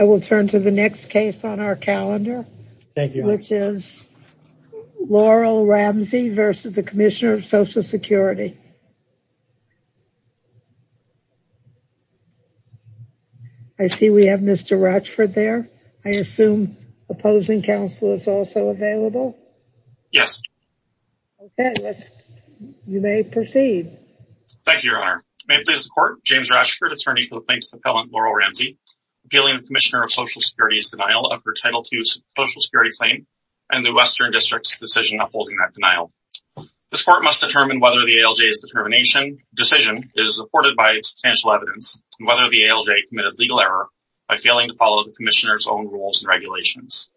I will turn to the next case on our calendar, which is Laurel Ramsey v. Commissioner of Social Security. I see we have Mr. Ratchford there. I assume opposing counsel is also available? Yes. Okay, you may proceed. Thank you, Your Honor. May it please the Court, James Ratchford, attorney for the plaintiffs and Commissioner of Social Security's denial of her Title II Social Security claim and the Western District's decision upholding that denial. This Court must determine whether the ALJ's determination decision is supported by substantial evidence and whether the ALJ committed legal error by failing to follow the Commissioner's own rules and regulations.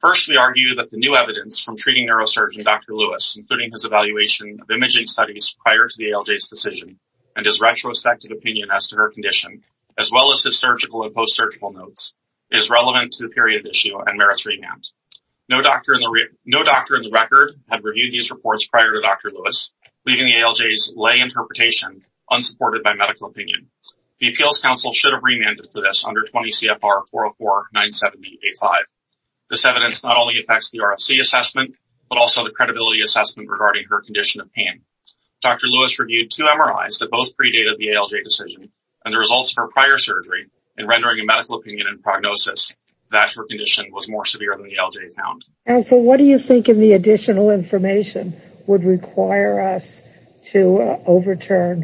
First we argue that the new evidence from treating neurosurgeon Dr. Lewis, including his evaluation of imaging studies prior to the ALJ's decision and his retrospective opinion as to her condition, as well as his surgical and post-surgical notes, is relevant to the period of issue and merits remand. No doctor in the record had reviewed these reports prior to Dr. Lewis, leaving the ALJ's lay interpretation unsupported by medical opinion. The Appeals Council should have remanded for this under 20 CFR 404-970-85. This evidence not only affects the RFC assessment, but also the credibility assessment regarding her condition of pain. Dr. Lewis reviewed two MRIs that both predated the ALJ decision and the results of her prior surgery in rendering a medical opinion and prognosis that her condition was more severe than the ALJ found. Counsel, what do you think in the additional information would require us to overturn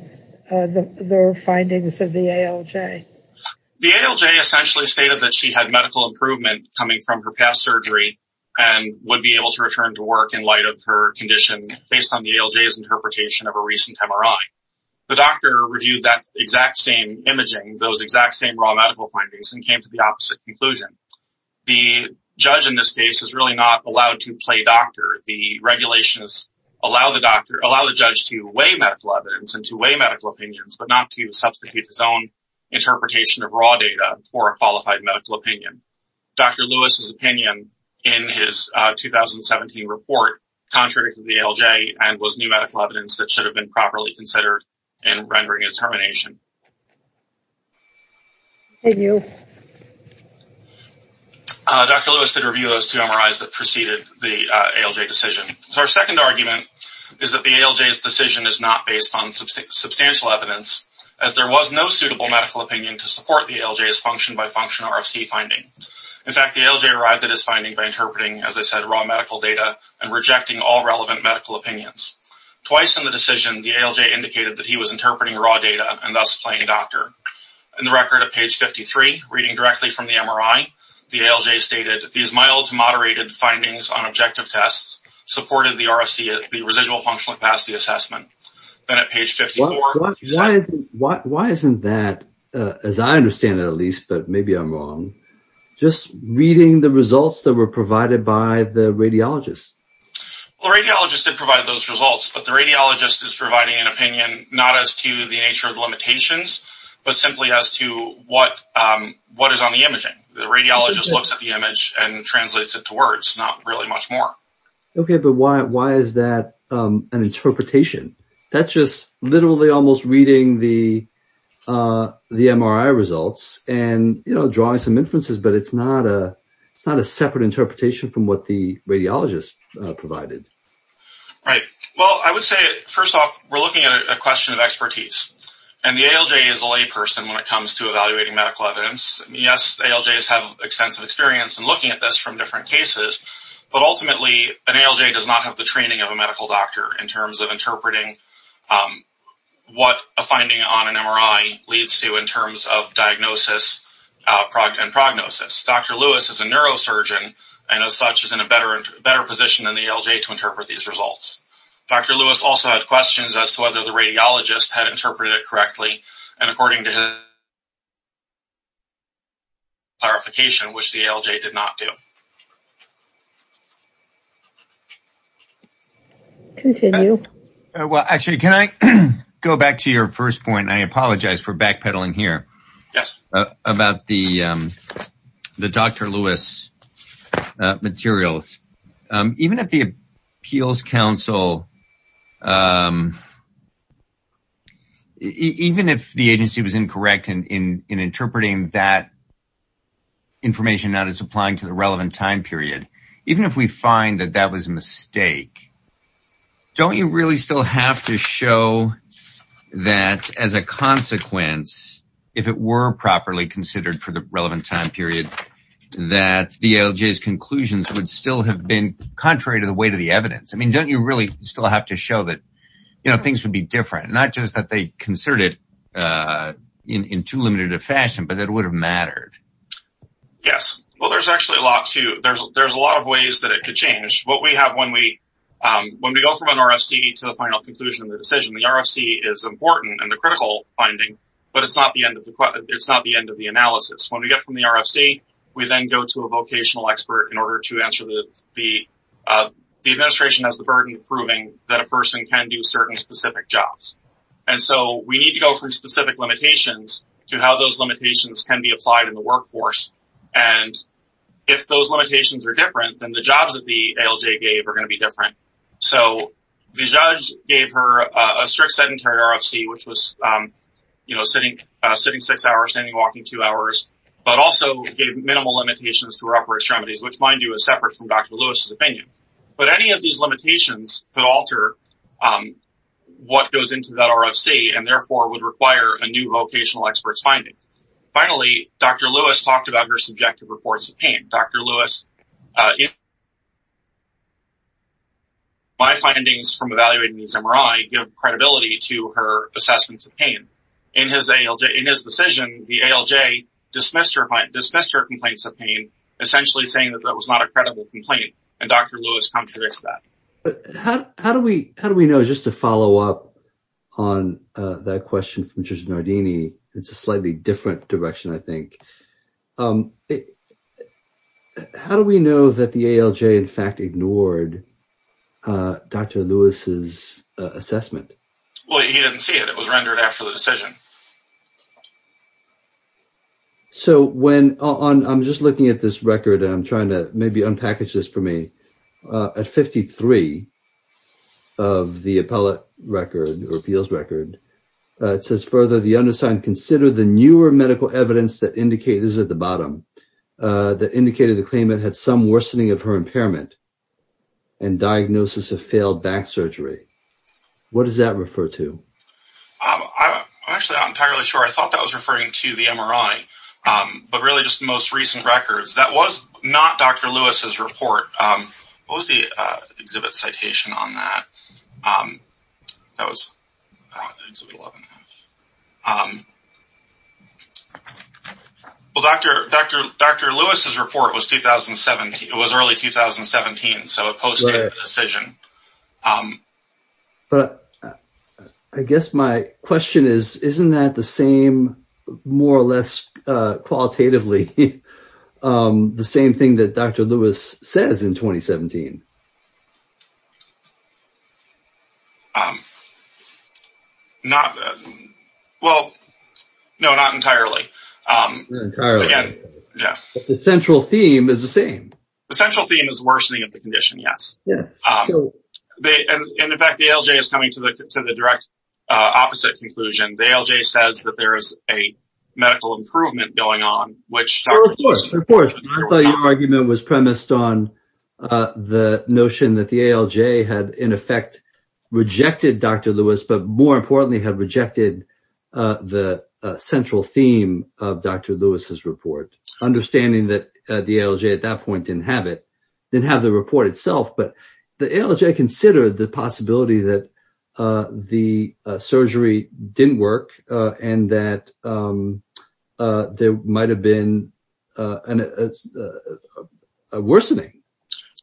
the findings of the ALJ? The ALJ essentially stated that she had medical improvement coming from her past surgery and would be able to return to work in light of her condition based on the ALJ's interpretation of a recent MRI. The doctor reviewed that exact same imaging, those exact same raw medical findings, and came to the opposite conclusion. The judge in this case is really not allowed to play doctor. The regulations allow the judge to weigh medical evidence and to weigh medical opinions, but not to substitute his own interpretation of raw data for a qualified medical opinion. Dr. Lewis's opinion in his 2017 report contradicted the ALJ and was new medical evidence that should have been properly considered in rendering a determination. Thank you. Dr. Lewis did review those two MRIs that preceded the ALJ decision. Our second argument is that the ALJ's decision is not based on substantial evidence, as there was no suitable medical opinion to support the ALJ's function-by-function RFC finding. In fact, the ALJ arrived at his finding by interpreting, as I said, raw medical data and rejecting all relevant medical opinions. Twice in the decision, the ALJ indicated that he was interpreting raw data and thus playing doctor. In the record at page 53, reading directly from the MRI, the ALJ stated, these mild to moderated findings on objective tests supported the RFC, the residual functional capacity assessment. Why isn't that, as I understand it at least, but maybe I'm wrong, just reading the results that were provided by the radiologist? The radiologist did provide those results, but the radiologist is providing an opinion not as to the nature of the limitations, but simply as to what is on the imaging. The radiologist looks at the image and translates it to words, not really much more. Okay, but why is that an interpretation? That's just literally almost reading the MRI results and drawing some inferences, but it's not a separate interpretation from what the radiologist provided. Right. Well, I would say, first off, we're looking at a question of expertise, and the ALJ is a layperson when it comes to evaluating medical evidence. Yes, ALJs have extensive experience in looking at this from different cases, but ultimately an ALJ does not have the training of a medical doctor in terms of interpreting what a finding on an MRI leads to in terms of diagnosis and prognosis. Dr. Lewis is a neurosurgeon, and as such is in a better position than the ALJ to interpret these results. Dr. Lewis also had questions as to whether the radiologist had interpreted it correctly, and according to his clarification, which the ALJ did not do. Continue. Well, actually, can I go back to your first point? I apologize for backpedaling here. Yes. About the Dr. Lewis materials. Even if the Appeals Council, even if the agency was incorrect in interpreting that information that is applying to the relevant time period, even if we find that that was a mistake, don't you really still have to show that as a consequence, if it were properly considered for the relevant time period, that the ALJ's conclusions would still have been contrary to the weight of the evidence? I mean, don't you really still have to show that things would be different, not just that they considered it in too limited a fashion, but that it would have mattered? Yes. Well, there's actually a lot, too. There's a lot of ways that it could change. What we have when we go from an RFC to the final conclusion of the decision, the RFC is important and the critical finding, but it's not the end of the analysis. When we get from the RFC, we then go to a vocational expert in order to answer the... The administration has the that a person can do certain specific jobs. And so we need to go from specific limitations to how those limitations can be applied in the workforce. And if those limitations are different than the jobs that the ALJ gave are going to be different. So the judge gave her a strict sedentary RFC, which was, you know, sitting six hours, standing, walking two hours, but also gave minimal limitations to her upper extremities, which mind you is separate from Dr. Lewis's opinion. But any of these limitations could alter what goes into that RFC and therefore would require a new vocational expert's finding. Finally, Dr. Lewis talked about her subjective reports of pain. Dr. Lewis... My findings from evaluating these MRI give credibility to her assessments of pain. In his decision, the ALJ dismissed her complaints of pain, essentially saying that that was not a credible complaint. And Dr. Lewis contradicts that. How do we know, just to follow up on that question from Judge Nardini, it's a slightly different direction, I think. How do we know that the ALJ in fact ignored Dr. Lewis's assessment? Well, he didn't see it. It was rendered after the decision. So when... I'm just looking at this record and I'm trying to maybe unpackage this for me. At 53 of the appellate record, or appeals record, it says further, the undersigned consider the newer medical evidence that indicates... this is at the bottom... that indicated the claimant had some worsening of her impairment and diagnosis of failed back surgery. What does that refer to? I'm actually not entirely sure. I thought that was referring to the MRI, but really just most recent records. That was not Dr. Lewis's report. What was the exhibit citation on that? That was... Well, Dr. Lewis's report was 2017. It was early 2017, so it posted the decision. But I guess my question is, isn't that the same, more or less qualitatively, the same thing that Dr. Lewis says in 2017? Not... well, no, not entirely. The central theme is the same. The central theme is worsening of the condition, yes. And in fact, the ALJ is coming to the direct opposite conclusion. The ALJ says that there is a medical improvement going on, which... Of course, of course. I thought your argument was premised on the notion that the ALJ had, in effect, rejected Dr. Lewis, but more importantly, had rejected the central theme of Dr. Lewis's report. Understanding that the ALJ at that point didn't have the report itself, but the ALJ considered the possibility that the surgery didn't work and that there might have been a worsening.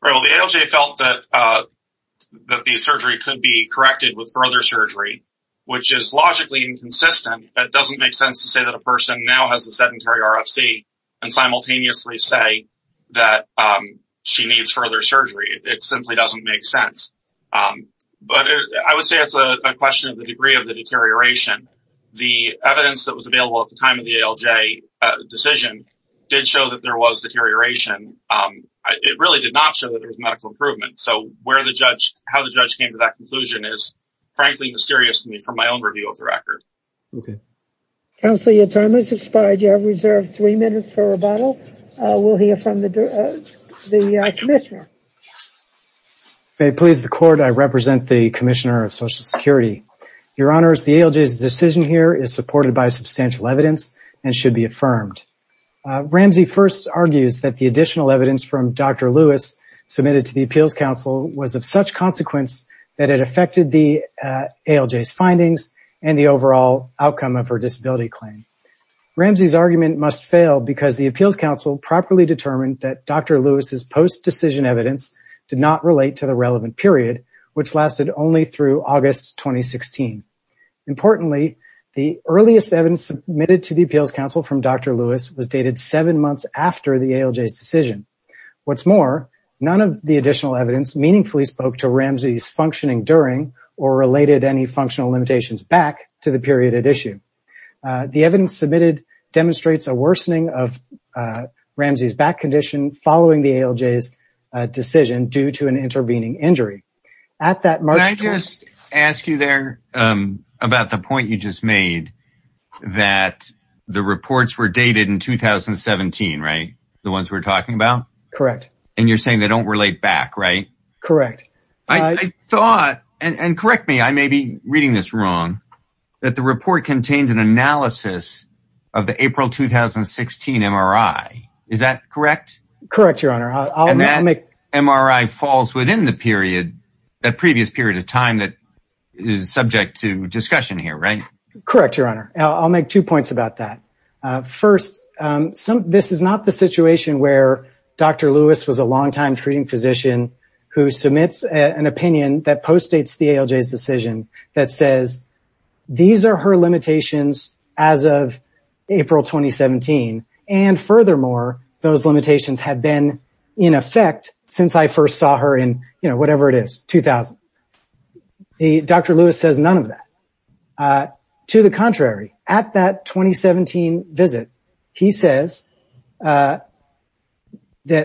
Well, the ALJ felt that the surgery could be corrected with further surgery, which is logically inconsistent. It doesn't make sense to say that a person now has a sedentary RFC and simultaneously say that she needs further surgery. It simply doesn't make sense. But I would say it's a question of the degree of the deterioration. The evidence that was available at the time of the ALJ decision did show that there was deterioration. It really did not show that there was medical improvement. So how the judge came to that conclusion is, frankly, mysterious to me from my own review of the record. Okay. Counselor, your time has expired. You have reserved three minutes for rebuttal. We'll hear from the Commissioner. May it please the Court, I represent the Commissioner of Social Security. Your Honors, the ALJ's decision here is supported by substantial evidence and should be affirmed. Ramsey first argues that the additional evidence from Dr. Lewis submitted to the ALJ's findings and the overall outcome of her disability claim. Ramsey's argument must fail because the Appeals Council properly determined that Dr. Lewis's post-decision evidence did not relate to the relevant period, which lasted only through August 2016. Importantly, the earliest evidence submitted to the Appeals Council from Dr. Lewis was dated seven months after the ALJ's decision. What's more, none of the additional evidence meaningfully spoke to Ramsey's functioning during or related any functional limitations back to the period at issue. The evidence submitted demonstrates a worsening of Ramsey's back condition following the ALJ's decision due to an intervening injury. Can I just ask you there about the point you just made, that the reports were dated in 2017, right? The ones we're talking about? Correct. And you're saying they don't relate back, right? Correct. I thought, and correct me, I may be reading this wrong, that the report contains an analysis of the April 2016 MRI. Is that correct? Correct, Your Honor. And that MRI falls within the previous period of time that is subject to discussion here, right? Correct, Your Honor. I'll make two points about that. First, this is not the situation where Dr. Lewis was a longtime treating physician who submits an opinion that postdates the ALJ's decision that says these are her limitations as of April 2017. And furthermore, those limitations have been in effect since I first saw her in, you know, whatever it is, 2000. Dr. Lewis says none of that. To the contrary, at that 2017 visit, he says that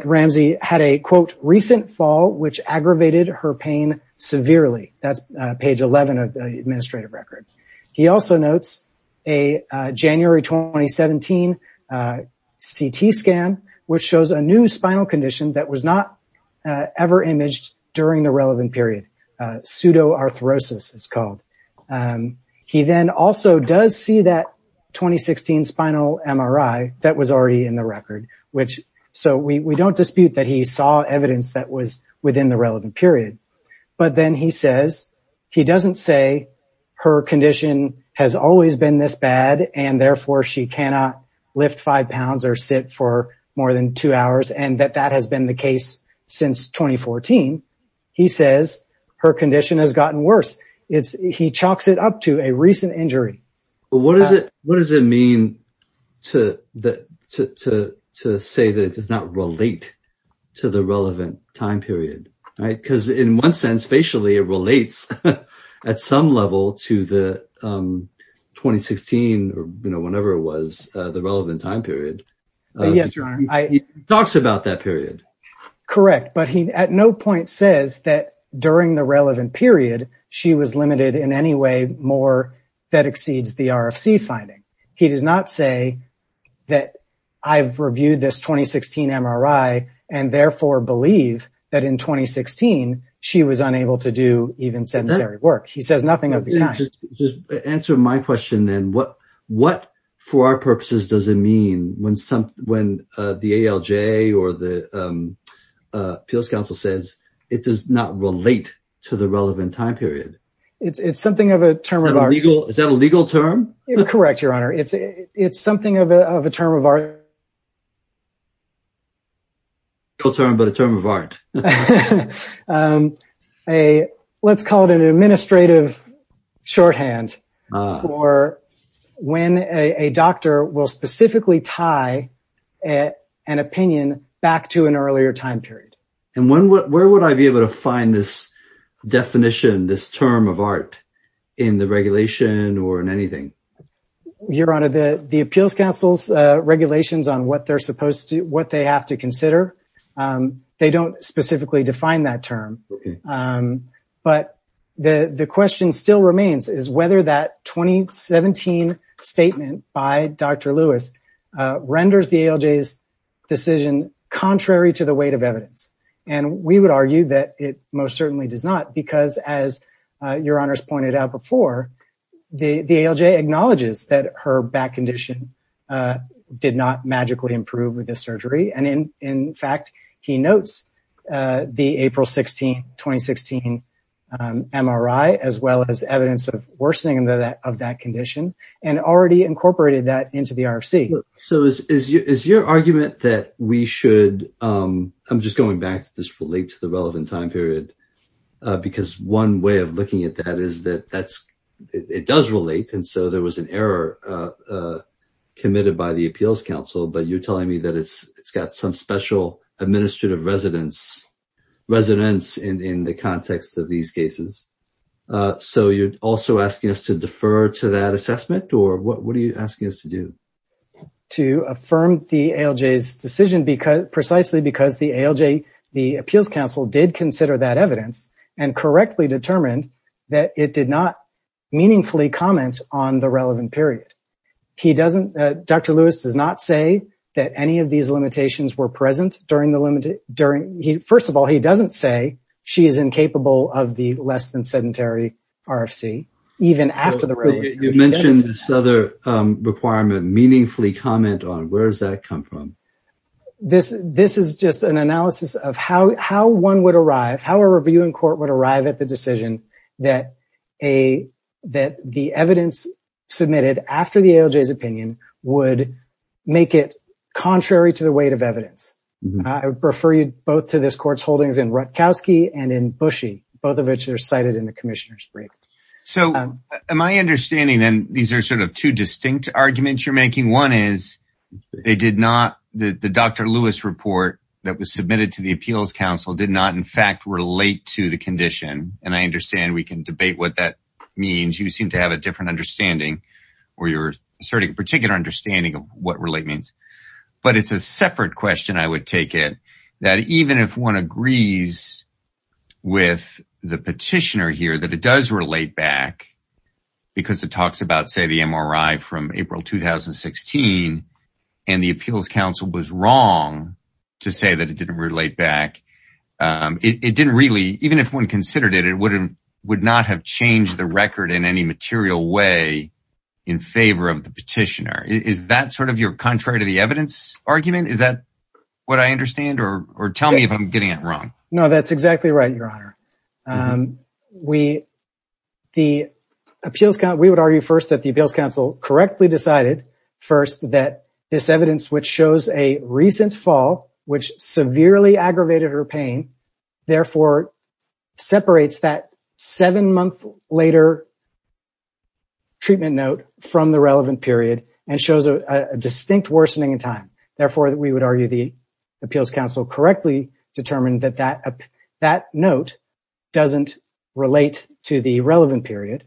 Ramsey had a, quote, recent fall which aggravated her pain severely. That's page 11 of the administrative record. He also notes a January 2017 CT scan which shows a new spinal condition that was not ever imaged during the relevant period. Pseudoarthrosis, it's called. He then also does see that 2016 spinal MRI that was already in the record. So we don't dispute that he saw evidence that was within the relevant period. But then he says, he doesn't say her condition has always been this bad and therefore she cannot lift five pounds. Her condition has gotten worse. He chalks it up to a recent injury. What does it mean to say that it does not relate to the relevant time period? Because in one sense, facially, it relates at some level to the 2016, or whenever it was, the relevant time period. Yes, Your Honor. He talks about that period. Correct. But he at no point says that during the relevant period she was limited in any way more that exceeds the RFC finding. He does not say that I've reviewed this 2016 MRI and therefore believe that in 2016 she was unable to do even sedentary work. He says nothing of the kind. Just answer my question then. What, for our purposes, does it mean when the ALJ or the Appeals Council says it does not relate to the relevant time period? It's something of a term of art. Is that a legal term? Correct, Your Honor. It's something of a term of art. A legal term, but a term of art. Let's call it an administrative shorthand for when a doctor will specifically tie an opinion back to an earlier time period. Where would I be able to find this definition, this term of art in the regulation or in anything? Your Honor, the Appeals Council's regulations on what they have to consider, but the question still remains is whether that 2017 statement by Dr. Lewis renders the ALJ's decision contrary to the weight of evidence. We would argue that it most certainly does not because as Your Honor's pointed out before, the ALJ acknowledges that her back condition did not magically improve with this surgery. In fact, he notes the April 16, 2016 MRI, as well as evidence of worsening of that condition and already incorporated that into the RFC. So is your argument that we should, I'm just going back to this relate to the relevant time period, because one way of looking at that is that it does relate and so there was an error committed by the Appeals Council, but you're telling me that it's got some special administrative residence in the context of these cases. So you're also asking us to defer to that assessment or what are you asking us to do? To affirm the ALJ's decision precisely because the ALJ, the Appeals Council did consider that evidence and correctly determined that it did not meaningfully comment on the relevant period. He doesn't, Dr. Lewis does not say that any of these limitations were present during the limit, during, he, first of all, he doesn't say she is incapable of the less than sedentary RFC, even after the... You mentioned this other requirement, meaningfully comment on, where does that come from? This, this is just an analysis of how, how one would arrive, how a review in court would arrive at the decision that a, that the evidence submitted after the ALJ's opinion would make it contrary to the weight of evidence. I would refer you both to this court's holdings in Rutkowski and in Bushey, both of which are cited in the Commissioner's brief. So am I understanding then these are sort of two distinct arguments you're making. One is they did not, the Dr. Lewis report that was submitted to the Appeals Council did not in the condition. And I understand we can debate what that means. You seem to have a different understanding or you're starting a particular understanding of what relate means, but it's a separate question. I would take it that even if one agrees with the petitioner here, that it does relate back because it talks about, say the MRI from April, 2016, and the Appeals Council was wrong to say that it didn't relate back. It didn't really, even if one considered it, it would not have changed the record in any material way in favor of the petitioner. Is that sort of your contrary to the evidence argument? Is that what I understand or tell me if I'm getting it wrong? No, that's exactly right, Your Honor. We, the Appeals Council, we would argue first that the Appeals Council correctly decided first that this evidence, which shows a recent fall, which severely aggravated her pain, therefore separates that seven-month later treatment note from the relevant period and shows a distinct worsening in time. Therefore, we would argue the Appeals Council correctly determined that that note doesn't relate to the relevant period.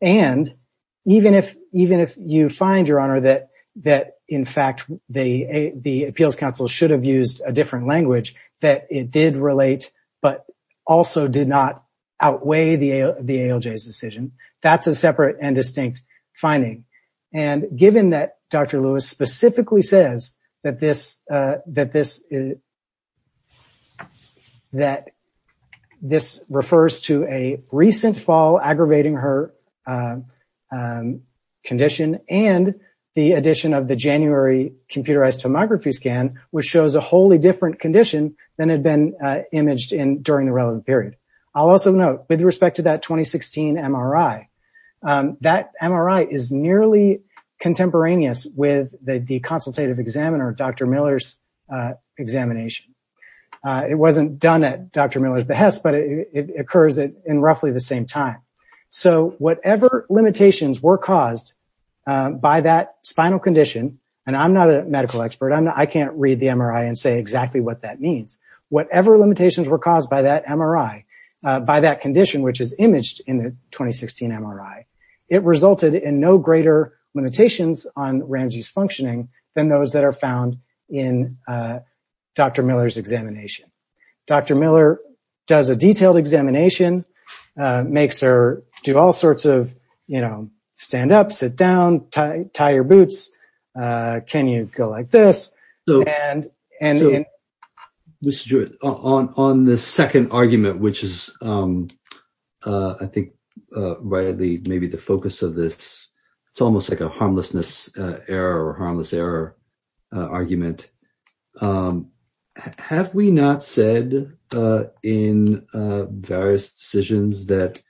And even if you find, Your Honor, that, in fact, the Appeals Council should have used a different language, that it did relate but also did not outweigh the ALJ's decision, that's a separate and distinct finding. And given that Dr. Lewis specifically says that this refers to a recent fall aggravating her condition and the addition of the January computerized tomography scan, which shows a wholly different condition than had been imaged in during the relevant period. I'll also note, with respect to that 2016 MRI, that MRI is nearly contemporaneous with the consultative examiner, Dr. Miller's examination. It wasn't done at Dr. Miller's exam. It occurs in roughly the same time. So whatever limitations were caused by that spinal condition, and I'm not a medical expert. I can't read the MRI and say exactly what that means. Whatever limitations were caused by that condition, which is imaged in the 2016 MRI, it resulted in no greater limitations on Ramsey's functioning than those that are found in Dr. Miller's. Dr. Miller does a detailed examination, makes her do all sorts of, you know, stand up, sit down, tie your boots. Can you go like this? So, Mr. Jewett, on the second argument, which is, I think, right at the, maybe the focus of this, it's almost like a harmlessness error or harmless error argument. Have we not said in various decisions that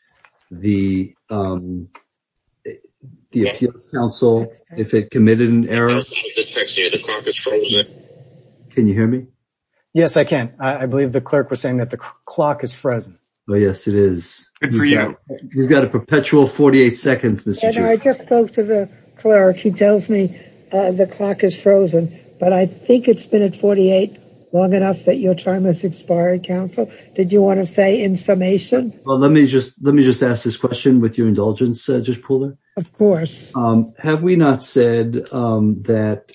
the appeals council, if it committed an error? Can you hear me? Yes, I can. I believe the clerk was saying that the clock is frozen. Oh, yes, it is. You've got a perpetual 48 seconds, Mr. Jewett. I just spoke to the clerk. He tells me the clock is frozen, but I think it's been at 48 long enough that your time has expired, counsel. Did you want to say in summation? Well, let me just ask this question with your indulgence, Judge Pooler. Of course. Have we not said that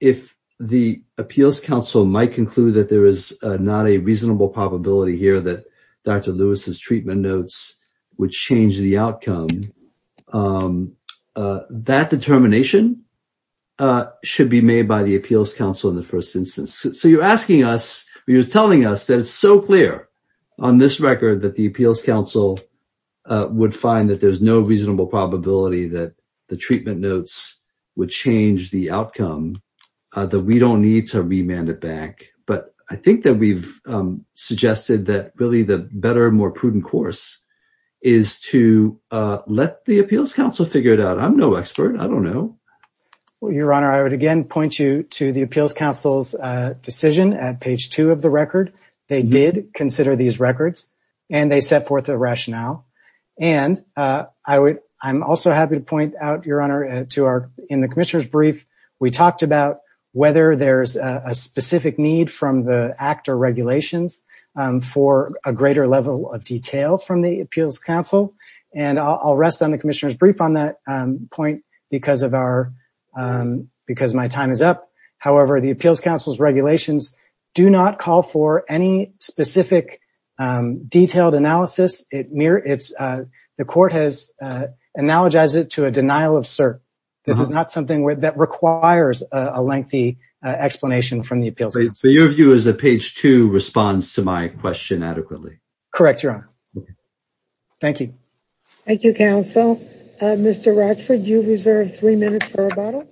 if the appeals council might conclude that there is not a reasonable probability here that Dr. Lewis's treatment notes would change the outcome, that determination should be made by the appeals council in the first instance? So, you're asking us, you're telling us that it's so clear on this record that the appeals council would find that there's no reasonable probability that the treatment notes would change the outcome, that we don't need to remand it back. But I think that we've suggested that really the better, more prudent course is to let the appeals council figure it out. I'm no expert. I don't know. Well, Your Honor, I would again point you to the appeals council's decision at page two of the record. They did consider these records and they set forth a rationale. And I'm also happy to point out, Your Honor, in the commissioner's brief, we talked about whether there's a specific need from the ACT or regulations for a greater level of detail from the appeals council. And I'll rest on the commissioner's brief on that point because my time is up. However, the appeals council's regulations do not call for any specific detailed analysis. The court has analogized it to a denial of cert. This is not something that requires a lengthy explanation from the appeals council. So your view is that page two responds to my question adequately? Correct, Your Honor. Thank you. Thank you, counsel. Mr. Rochford, you reserve three minutes for rebuttal.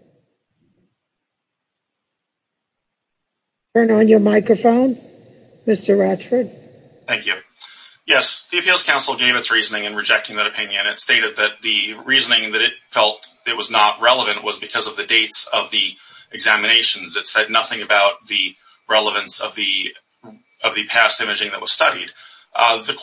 Turn on your microphone, Mr. Rochford. Thank you. Yes, the appeals council gave its reasoning in rejecting that opinion. It stated that the reasoning that it felt it was not relevant was because of the dates of the examinations. It said nothing about the relevance of the past imaging that was studied. The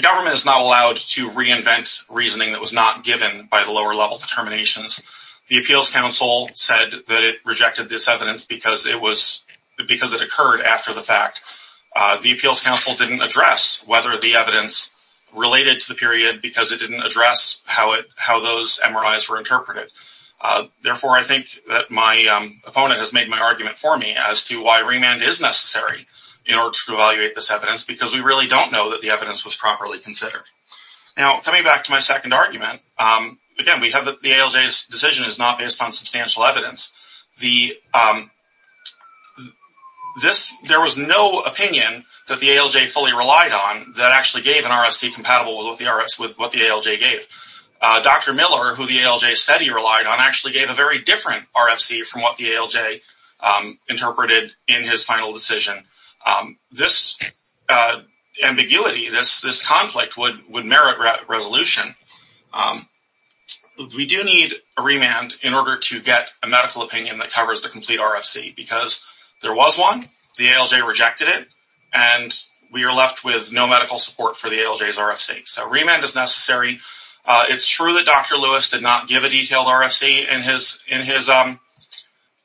government is not allowed to reinvent reasoning that was not given by the lower level determinations. The appeals council said that it rejected this evidence because it occurred after the fact. The appeals council didn't address whether the evidence was properly considered. Therefore, I think that my opponent has made my argument for me as to why remand is necessary in order to evaluate this evidence because we really don't know that the evidence was properly considered. Now, coming back to my second argument, again, we have that the ALJ's decision is not based on substantial evidence. There was no opinion that the ALJ fully relied on that actually gave an RFC compatible with what the ALJ gave. Dr. Miller, who the ALJ said he relied on, actually gave a very different RFC from what the ALJ interpreted in his final decision. This ambiguity, this conflict would merit resolution. We do need a remand in order to get a medical opinion that covers the complete RFC because there was one, the ALJ rejected it, and we are left with no medical support for the ALJ's decision. It is true that Dr. Lewis did not give a detailed RFC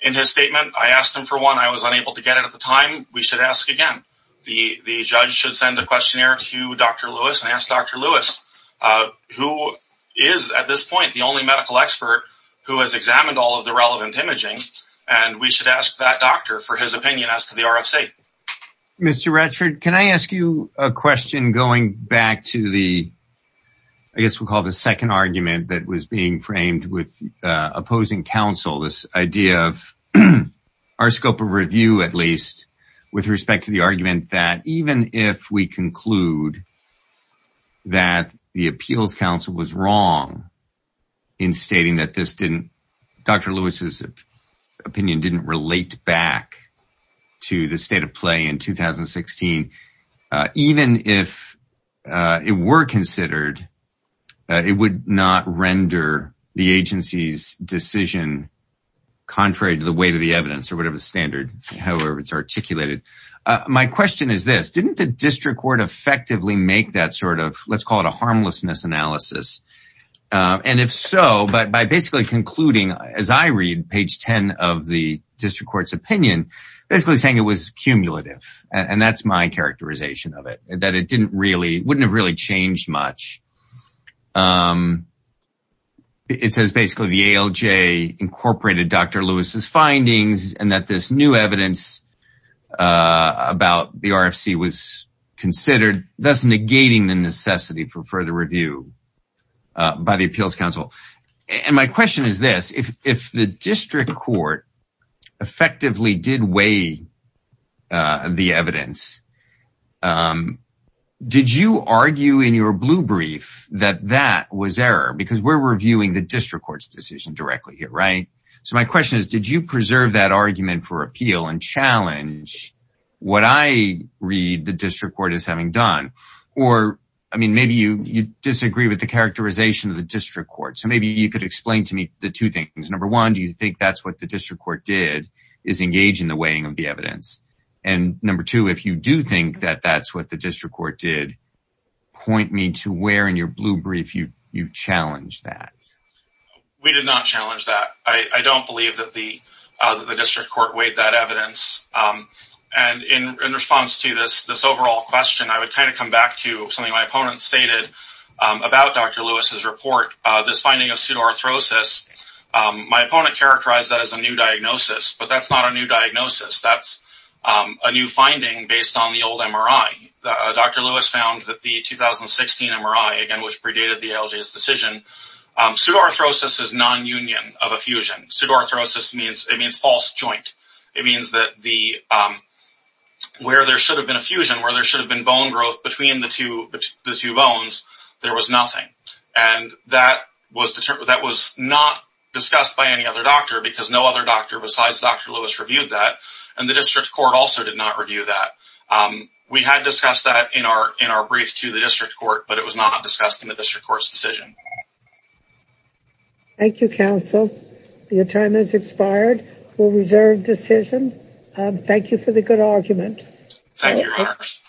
in his statement. I asked him for one. I was unable to get it at the time. We should ask again. The judge should send a questionnaire to Dr. Lewis and ask Dr. Lewis, who is at this point the only medical expert who has examined all of the relevant imaging, and we should ask that doctor for his opinion as to the RFC. Mr. Ratchford, can I ask you a question going back to the, I guess we call the second argument that was being framed with opposing counsel, this idea of our scope of review, at least, with respect to the argument that even if we conclude that the appeals counsel was wrong in stating that this didn't, Dr. Lewis's opinion didn't relate back to the state of play in 2016, even if it were considered, it would not render the agency's decision contrary to the weight of the evidence or whatever standard, however it's articulated. My question is this, didn't the district court effectively make that sort of, let's call it a harmlessness analysis, and if so, but by basically concluding, as I read page 10 of the district court's opinion, basically saying it was cumulative, and that's my characterization of it, that it didn't really, wouldn't have really changed much. It says basically the ALJ incorporated Dr. Lewis's findings, and that this new evidence about the RFC was considered, thus negating the necessity for further review by the appeals counsel. And my question is this, if the district court effectively did weigh the evidence, did you argue in your blue brief that that was error? Because we're reviewing the district court's decision directly here, right? So my question is, did you preserve that argument for appeal and challenge what I read the district court as having done? Or, I mean, maybe you disagree with the characterization of the district court. So maybe you could explain to me the two things. Number one, do you think that's what the district court did is engage in the weighing of the evidence? And number two, if you do think that that's what the district court did, point me to where in your blue brief you challenged that. We did not challenge that. I don't believe that the district court weighed that evidence. And in response to this overall question, I would kind of come back to something my opponent stated about Dr. Lewis's report, this finding of pseudoarthrosis. My opponent characterized that as a new diagnosis, but that's not a new diagnosis. That's a new finding based on the old MRI. Dr. Lewis found that the 2016 MRI, again, which predated the ALJ's decision, pseudoarthrosis is non-union of a fusion. Pseudoarthrosis means false joint. It means that where there should have been a fusion, where there should have been bone growth between the two bones, there was nothing. And that was not discussed by any other doctor because no other doctor besides Dr. Lewis reviewed that, and the district court also did not review that. We had discussed that in our brief to the district court, but it was not discussed in the district court's decision. Thank you, counsel. Your time has expired. We'll reserve decision. Thank you for the good argument. Thank you, your honors.